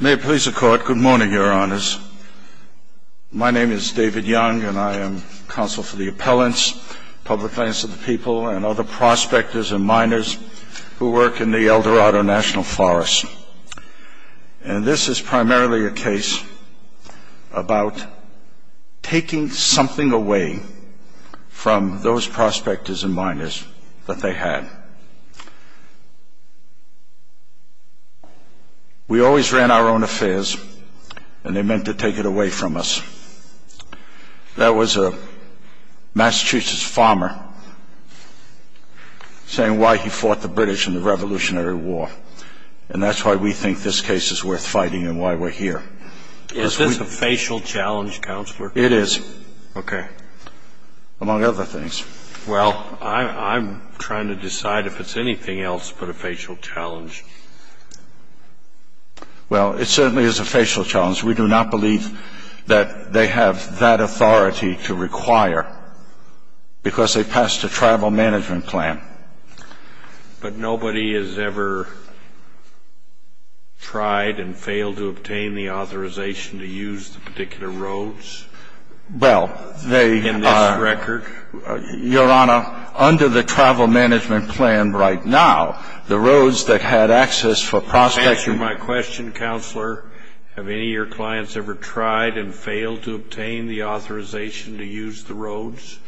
May it please the court, good morning your honors. My name is David Young and I am counsel for the appellants, public lands for the people, and other prospectors and miners who work in the El Dorado National Forest. And this is primarily a case about taking something away from those prospectors and miners that they had. We always ran our own affairs and they meant to take it away from us. There was a Massachusetts farmer saying why he fought the British in the Revolutionary War. And that's why we think this case is worth fighting and why we're here. Is this a facial challenge, Counselor? It is. Okay. Among other things. Well, I'm trying to decide if it's anything else but a facial challenge. Well, it certainly is a facial challenge. We do not believe that they have that authority to require because they passed a tribal management plan. But nobody has ever tried and failed to obtain the authorization to use the particular roads in this record? Your Honor, under the tribal management plan right now, the roads that had access for prospectors Answer my question, Counselor. Have any of your clients ever tried and failed to obtain the authorization to use the roads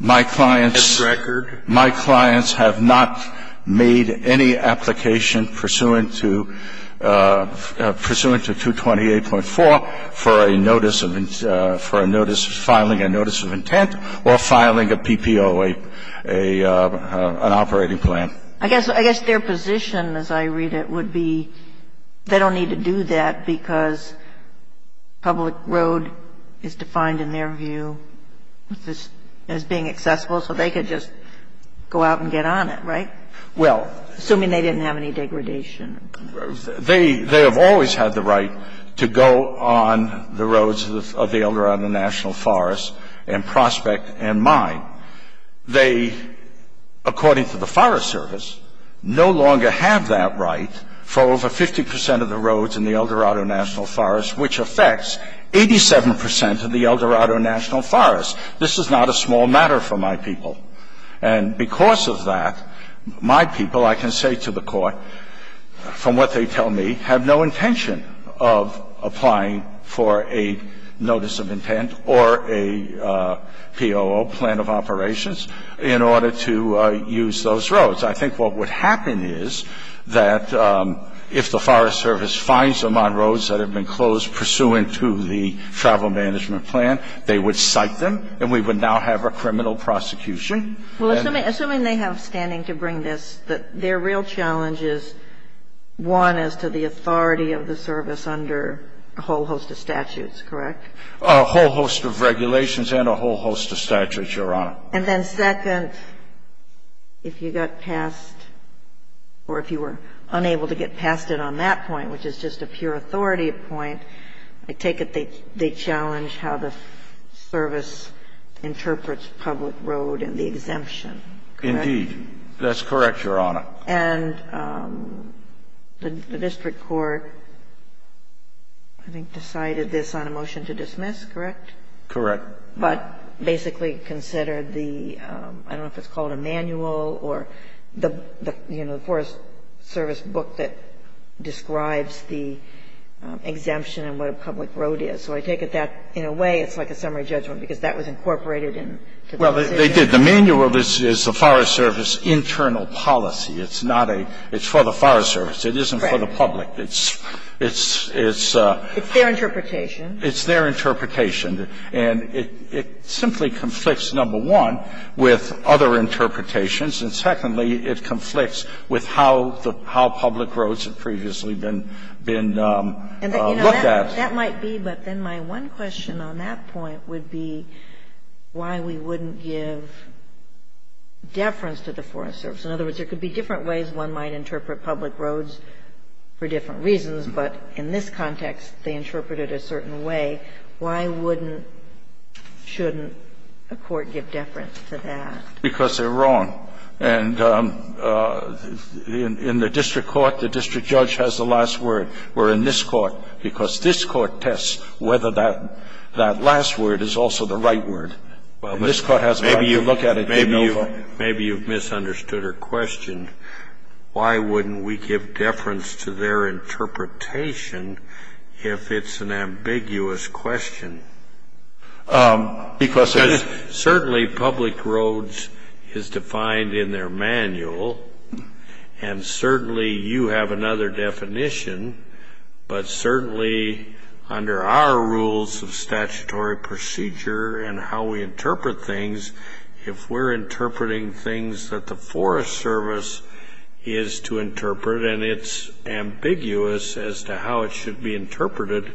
in this record? My clients have not made any application pursuant to 228.4 for a notice of filing a notice of filing a PPO, an operating plan. I guess their position, as I read it, would be they don't need to do that because public road is defined in their view as being accessible, so they could just go out and get on it, right? Well Assuming they didn't have any degradation. They have always had the right to go on the roads available around the National Forest and prospect and mine. They, according to the Forest Service, no longer have that right for over 50 percent of the roads in the El Dorado National Forest, which affects 87 percent of the El Dorado National Forest. This is not a small matter for my people. And because of that, my people, I can say to the Court, from what they tell me, have no intention of applying for a notice of intent or a POO, plan of operations, in order to use those roads. I think what would happen is that if the Forest Service finds them on roads that have been closed pursuant to the travel management plan, they would cite them and we would now have a criminal prosecution. Well, assuming they have standing to bring this, their real challenge is, one, as to the authority of the service under a whole host of statutes, correct? A whole host of regulations and a whole host of statutes, Your Honor. And then second, if you got past or if you were unable to get past it on that point, which is just a pure authority point, I take it they challenge how the service interprets public road and the exemption, correct? Indeed. That's correct, Your Honor. And the district court, I think, decided this on a motion to dismiss, correct? Correct. But basically considered the, I don't know if it's called a manual or the, you know, the Forest Service book that describes the exemption and what a public road is. So I take it that, in a way, it's like a summary judgment, because that was incorporated into the decision. Well, they did. The manual is the Forest Service internal policy. It's not a – it's for the Forest Service. It isn't for the public. It's, it's, it's a – It's their interpretation. It's their interpretation. And it simply conflicts, number one, with other interpretations. And secondly, it conflicts with how the – how public roads have previously been, been looked at. And, you know, that might be, but then my one question on that point would be why we wouldn't give deference to the Forest Service. In other words, there could be different ways one might interpret public roads for different reasons, but in this context, they interpret it a certain way. Why wouldn't, shouldn't a court give deference to that? Because they're wrong. And in the district court, the district judge has the last word. Where in this court, because this court tests whether that, that last word is also the right word. And this court has the right word. Maybe you've misunderstood her question. Why wouldn't we give deference to their interpretation if it's an ambiguous question? Because there's – Certainly public roads is defined in their manual. And certainly you have another definition, but certainly under our rules of statutory procedure and how we interpret things, if we're interpreting things that the Forest Service is to interpret and it's ambiguous as to how it should be interpreted,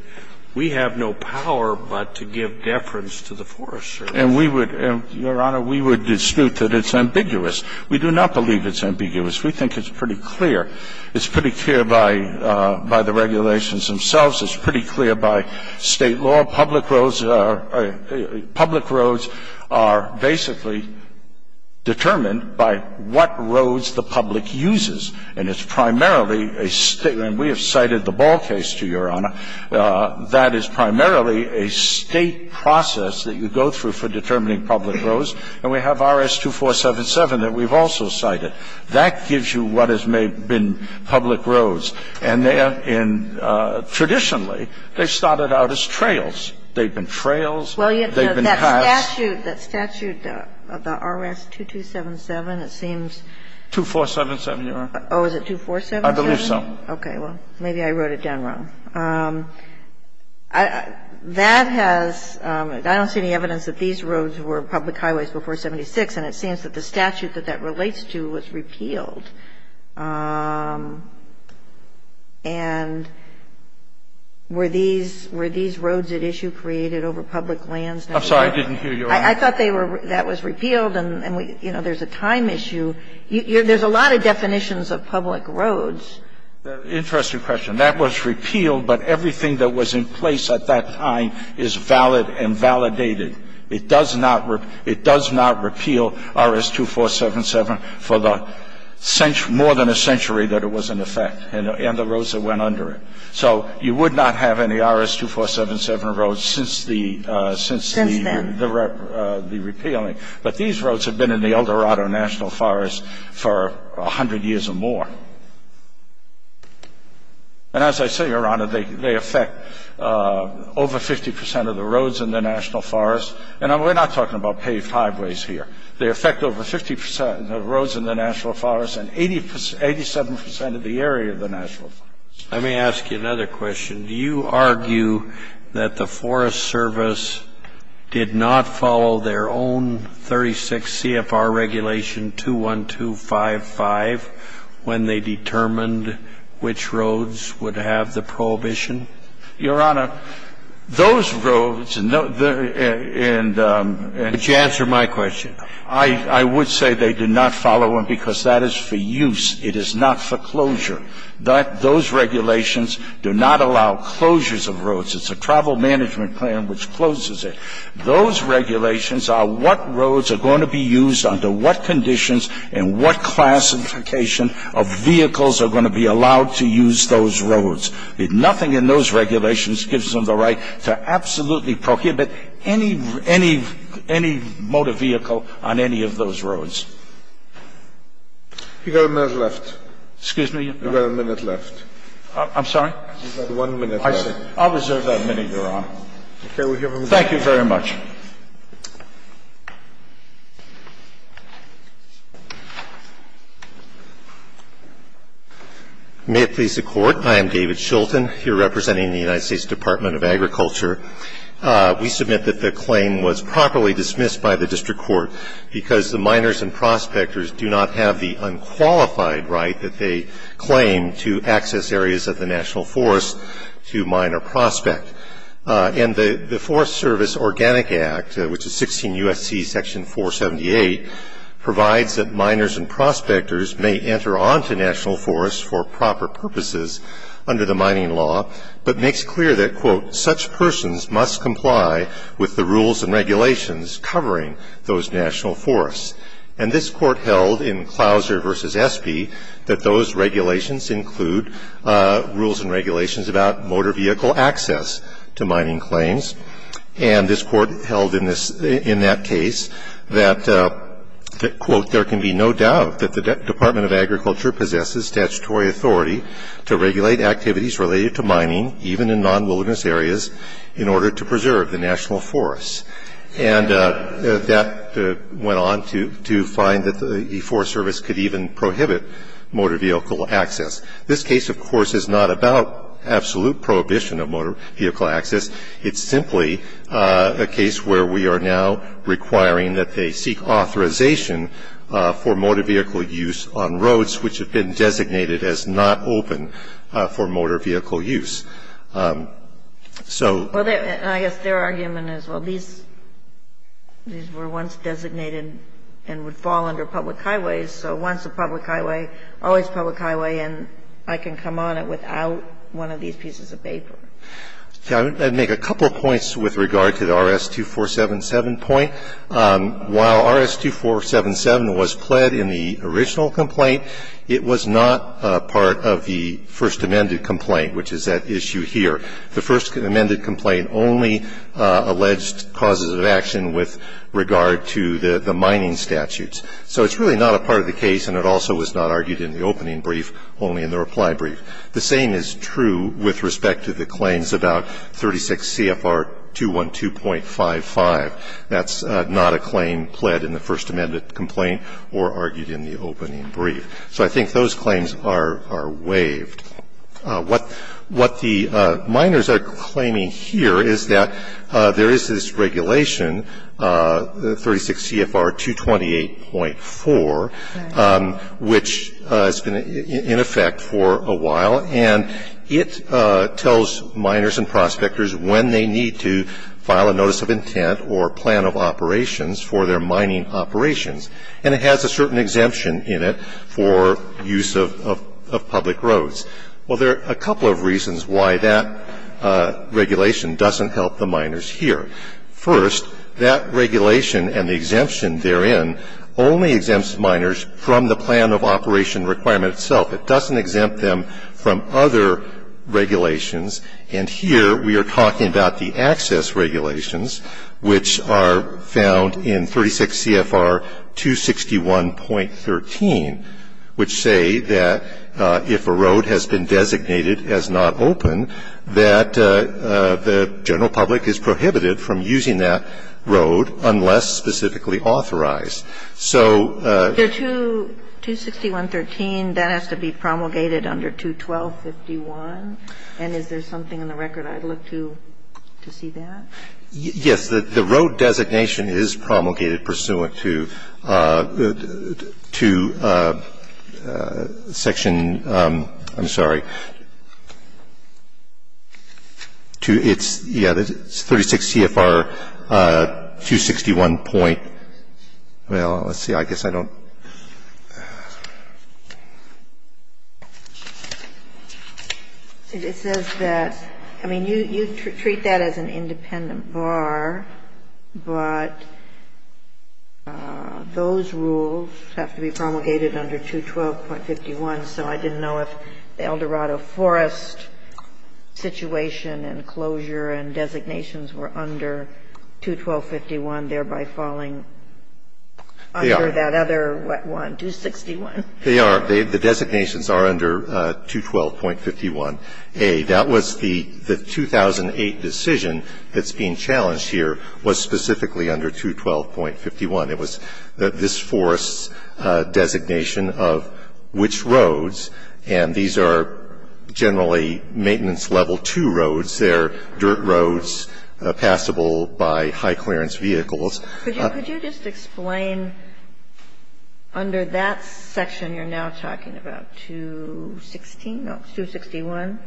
we have no power but to give deference to the Forest Service. And we would, Your Honor, we would dispute that it's ambiguous. We do not believe it's ambiguous. We think it's pretty clear. It's pretty clear by the regulations themselves. It's pretty clear by State law. Public roads are basically determined by what roads the public uses. And it's primarily a State – and we have cited the Ball case to Your Honor – that is primarily a State process that you go through for determining public roads. And we have RS-2477 that we've also cited. That gives you what has been public roads. And they are in – traditionally, they started out as trails. They've been trails. They've been paths. Well, that statute, that statute of the RS-2277, it seems – 2477, Your Honor. Oh, is it 2477? I believe so. Okay. Well, maybe I wrote it down wrong. That has – I don't see any evidence that these roads were public highways before 76, and it seems that the statute that that relates to was repealed. And were these – were these roads at issue created over public lands? I'm sorry. I didn't hear you, Your Honor. I thought they were – that was repealed and, you know, there's a time issue. There's a lot of definitions of public roads. Interesting question. And that was repealed, but everything that was in place at that time is valid and validated. It does not – it does not repeal RS-2477 for the – more than a century that it was in effect and the roads that went under it. So you would not have any RS-2477 roads since the repealing. But these roads have been in the El Dorado National Forest for 100 years or more. And as I say, Your Honor, they affect over 50 percent of the roads in the National Forest. And we're not talking about paved highways here. They affect over 50 percent of the roads in the National Forest and 87 percent of the area of the National Forest. Let me ask you another question. Do you argue that the Forest Service did not follow their own 36 CFR regulation, 21255, when they determined which roads would have the prohibition? Your Honor, those roads and – Could you answer my question? I would say they did not follow them because that is for use. It is not for closure. Those regulations do not allow closures of roads. It's a travel management plan which closes it. Those regulations are what roads are going to be used under what conditions and what classification of vehicles are going to be allowed to use those roads. Nothing in those regulations gives them the right to absolutely prohibit any motor vehicle on any of those roads. You've got a minute left. Excuse me? You've got a minute left. I'm sorry? You've got one minute left. I'll reserve that minute, Your Honor. Okay. Thank you very much. May it please the Court. I am David Schulten, here representing the United States Department of Agriculture. We submit that the claim was properly dismissed by the district court because the miners and prospectors do not have the unqualified right that they claim to access areas of the national forest to mine or prospect. And the Forest Service Organic Act, which is 16 U.S.C. Section 478, provides that miners and prospectors may enter onto national forests for proper purposes under the mining law, but makes clear that, quote, such persons must comply with the rules and regulations covering those national forests. And this Court held in Clouser v. Espy that those regulations include rules and regulations about motor vehicle access to mining claims. And this Court held in that case that, quote, there can be no doubt that the Department of Agriculture possesses statutory authority to regulate activities related to mining, even in non-wilderness areas, in order to preserve the national forests. And that went on to find that the Forest Service could even prohibit motor vehicle access. This case, of course, is not about absolute prohibition of motor vehicle access. It's simply a case where we are now requiring that they seek authorization for motor vehicle use on roads which have been designated as not open for motor vehicle use. So they're going to be able to do that. And I guess their argument is, well, these were once designated and would fall under public highways, so once a public highway, always public highway, and I can come on it without one of these pieces of paper. I'd make a couple of points with regard to the RS-2477 point. While RS-2477 was pled in the original complaint, it was not part of the first amended complaint, which is at issue here. The first amended complaint only alleged causes of action with regard to the mining statutes. So it's really not a part of the case, and it also was not argued in the opening brief, only in the reply brief. The same is true with respect to the claims about 36 CFR 212.55. That's not a claim pled in the first amended complaint or argued in the opening brief. So I think those claims are waived. What the miners are claiming here is that there is this regulation, 36 CFR 228.4, which has been in effect for a while, and it tells miners and prospectors when they need to file a notice of intent or plan of operations for their mining operations. And it has a certain exemption in it for use of public roads. Well, there are a couple of reasons why that regulation doesn't help the miners here. First, that regulation and the exemption therein only exempts miners from the plan of operation requirement itself. It doesn't exempt them from other regulations. And here we are talking about the access regulations, which are found in 36 CFR 261.13, which say that if a road has been designated as not open, that the general public is prohibited from using that road unless specifically authorized. So the 261.13, that has to be promulgated under 212.51? And is there something in the record I'd look to to see that? Yes. The road designation is promulgated pursuant to section, I'm sorry, to its 36 CFR 261 point. Well, let's see. I guess I don't. It says that, I mean, you treat that as an independent bar, but those rules have to be promulgated under 212.51. So I didn't know if the Eldorado Forest situation and closure and designations were under 212.51, and thereby falling under that other one, 261. They are. The designations are under 212.51a. That was the 2008 decision that's being challenged here was specifically under 212.51. It was this forest's designation of which roads, and these are generally maintenance level 2 roads. They're dirt roads passable by high clearance vehicles. Could you just explain under that section you're now talking about, 216, no, 261,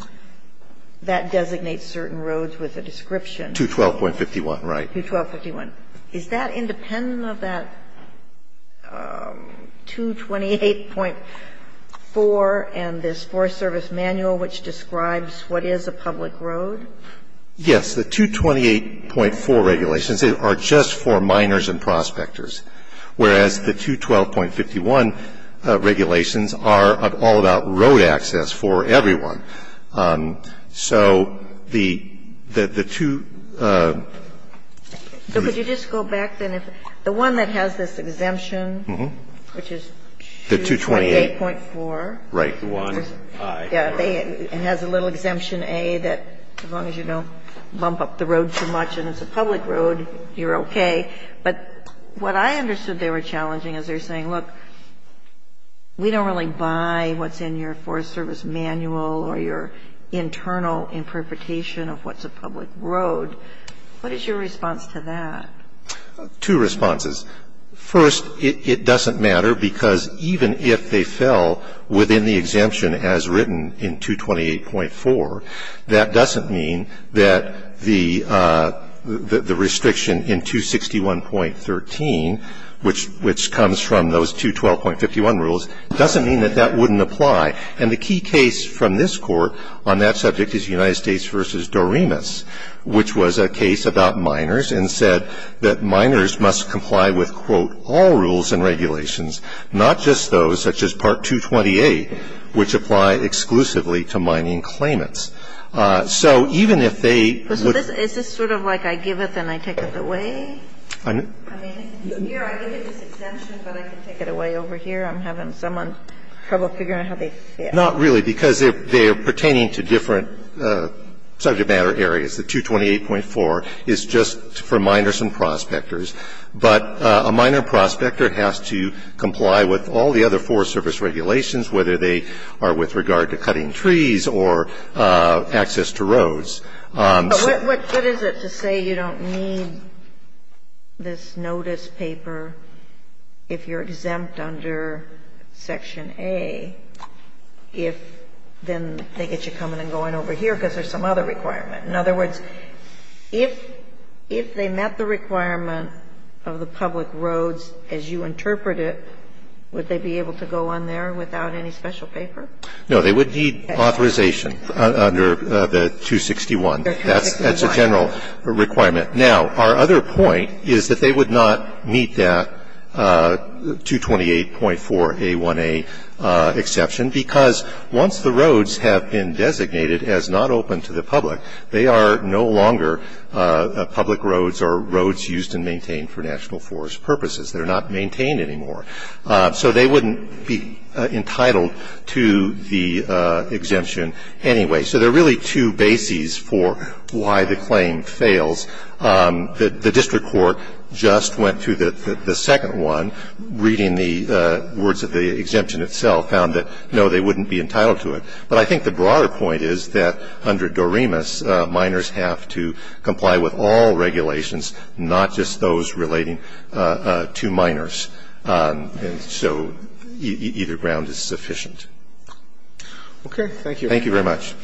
that designates certain roads with a description? 212.51, right. 212.51. Is that independent of that 228.4 and this Forest Service manual which describes what is a public road? Yes. The 228.4 regulations are just for minors and prospectors, whereas the 212.51 regulations are all about road access for everyone. So the two ‑‑ So could you just go back, then? The one that has this exemption, which is 228.4. Right. The one, I. Yeah. It has a little exemption A that as long as you don't bump up the road too much and it's a public road, you're okay. But what I understood they were challenging is they're saying, look, we don't really buy what's in your Forest Service manual or your internal interpretation of what's a public road. What is your response to that? Two responses. First, it doesn't matter because even if they fell within the exemption as written in 228.4, that doesn't mean that the restriction in 261.13, which comes from those 212.51 rules, doesn't mean that that wouldn't apply. And the key case from this Court on that subject is United States v. Doremus, which was a case about minors and said that minors must comply with, quote, all rules and regulations, not just those such as Part 228, which apply exclusively to mining claimants. So even if they ‑‑ Is this sort of like I give it and I take it away? I mean, here I give you this exemption, but I can take it away over here. I'm having some trouble figuring out how they fit. Not really, because they're pertaining to different subject matter areas. The 228.4 is just for minors and prospectors. But a minor prospector has to comply with all the other Forest Service regulations, whether they are with regard to cutting trees or access to roads. But what is it to say you don't need this notice paper if you're exempt under Section A if then they get you coming and going over here because there's some other requirement? In other words, if they met the requirement of the public roads as you interpret it, would they be able to go on there without any special paper? No, they would need authorization under the 261. That's a general requirement. Now, our other point is that they would not meet that 228.4A1A exception because once the roads have been designated as not open to the public, they are no longer public roads or roads used and maintained for national forest purposes. They're not maintained anymore. So they wouldn't be entitled to the exemption anyway. So there are really two bases for why the claim fails. The district court just went to the second one, reading the words of the exemption itself, found that, no, they wouldn't be entitled to it. But I think the broader point is that under DOREMAS, minors have to comply with all regulations, not just those relating to minors. And so either ground is sufficient. Okay. Thank you. Thank you very much.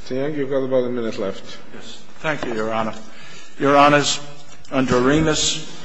Mr. Young, you've got about a minute left. Thank you, Your Honor. Your Honors, under DOREMAS,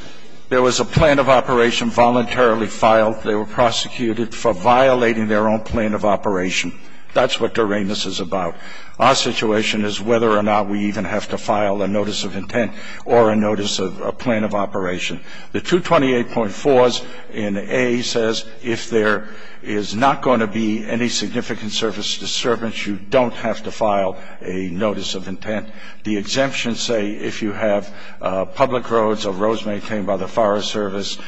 there was a plan of operation voluntarily filed. They were prosecuted for violating their own plan of operation. That's what DOREMAS is about. Our situation is whether or not we even have to file a notice of intent or a notice of a plan of operation. The 228.4 in A says if there is not going to be any significant service disturbance, you don't have to file a notice of intent. The exemptions say if you have public roads or roads maintained by the Forest Service, As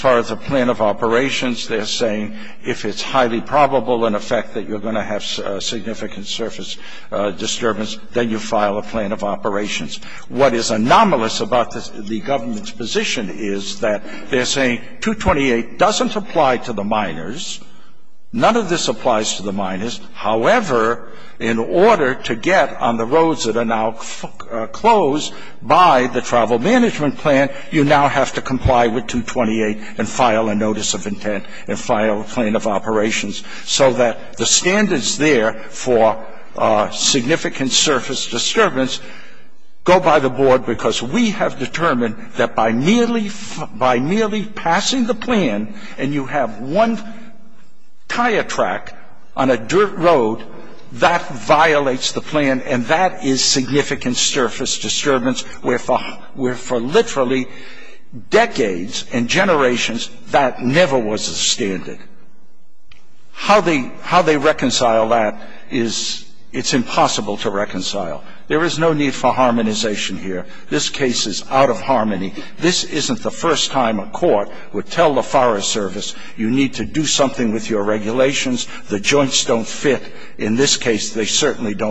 far as the plan of operations, they're saying if it's highly probable, in effect, that you're going to have significant service disturbance, then you file a plan of operations. What is anomalous about the government's position is that they're saying 228 doesn't apply to the minors. None of this applies to the minors. However, in order to get on the roads that are now closed by the travel management plan, you now have to comply with 228 and file a notice of intent and file a plan of operations so that the standards there for significant service disturbance go by the board because we have determined that by merely passing the plan and you have one tire track on a dirt road, that violates the plan and that is significant service disturbance where for literally decades and generations that never was a standard. How they reconcile that is it's impossible to reconcile. There is no need for harmonization here. This case is out of harmony. This isn't the first time a court would tell the Forest Service you need to do something with your regulations. In this case, they certainly don't fit.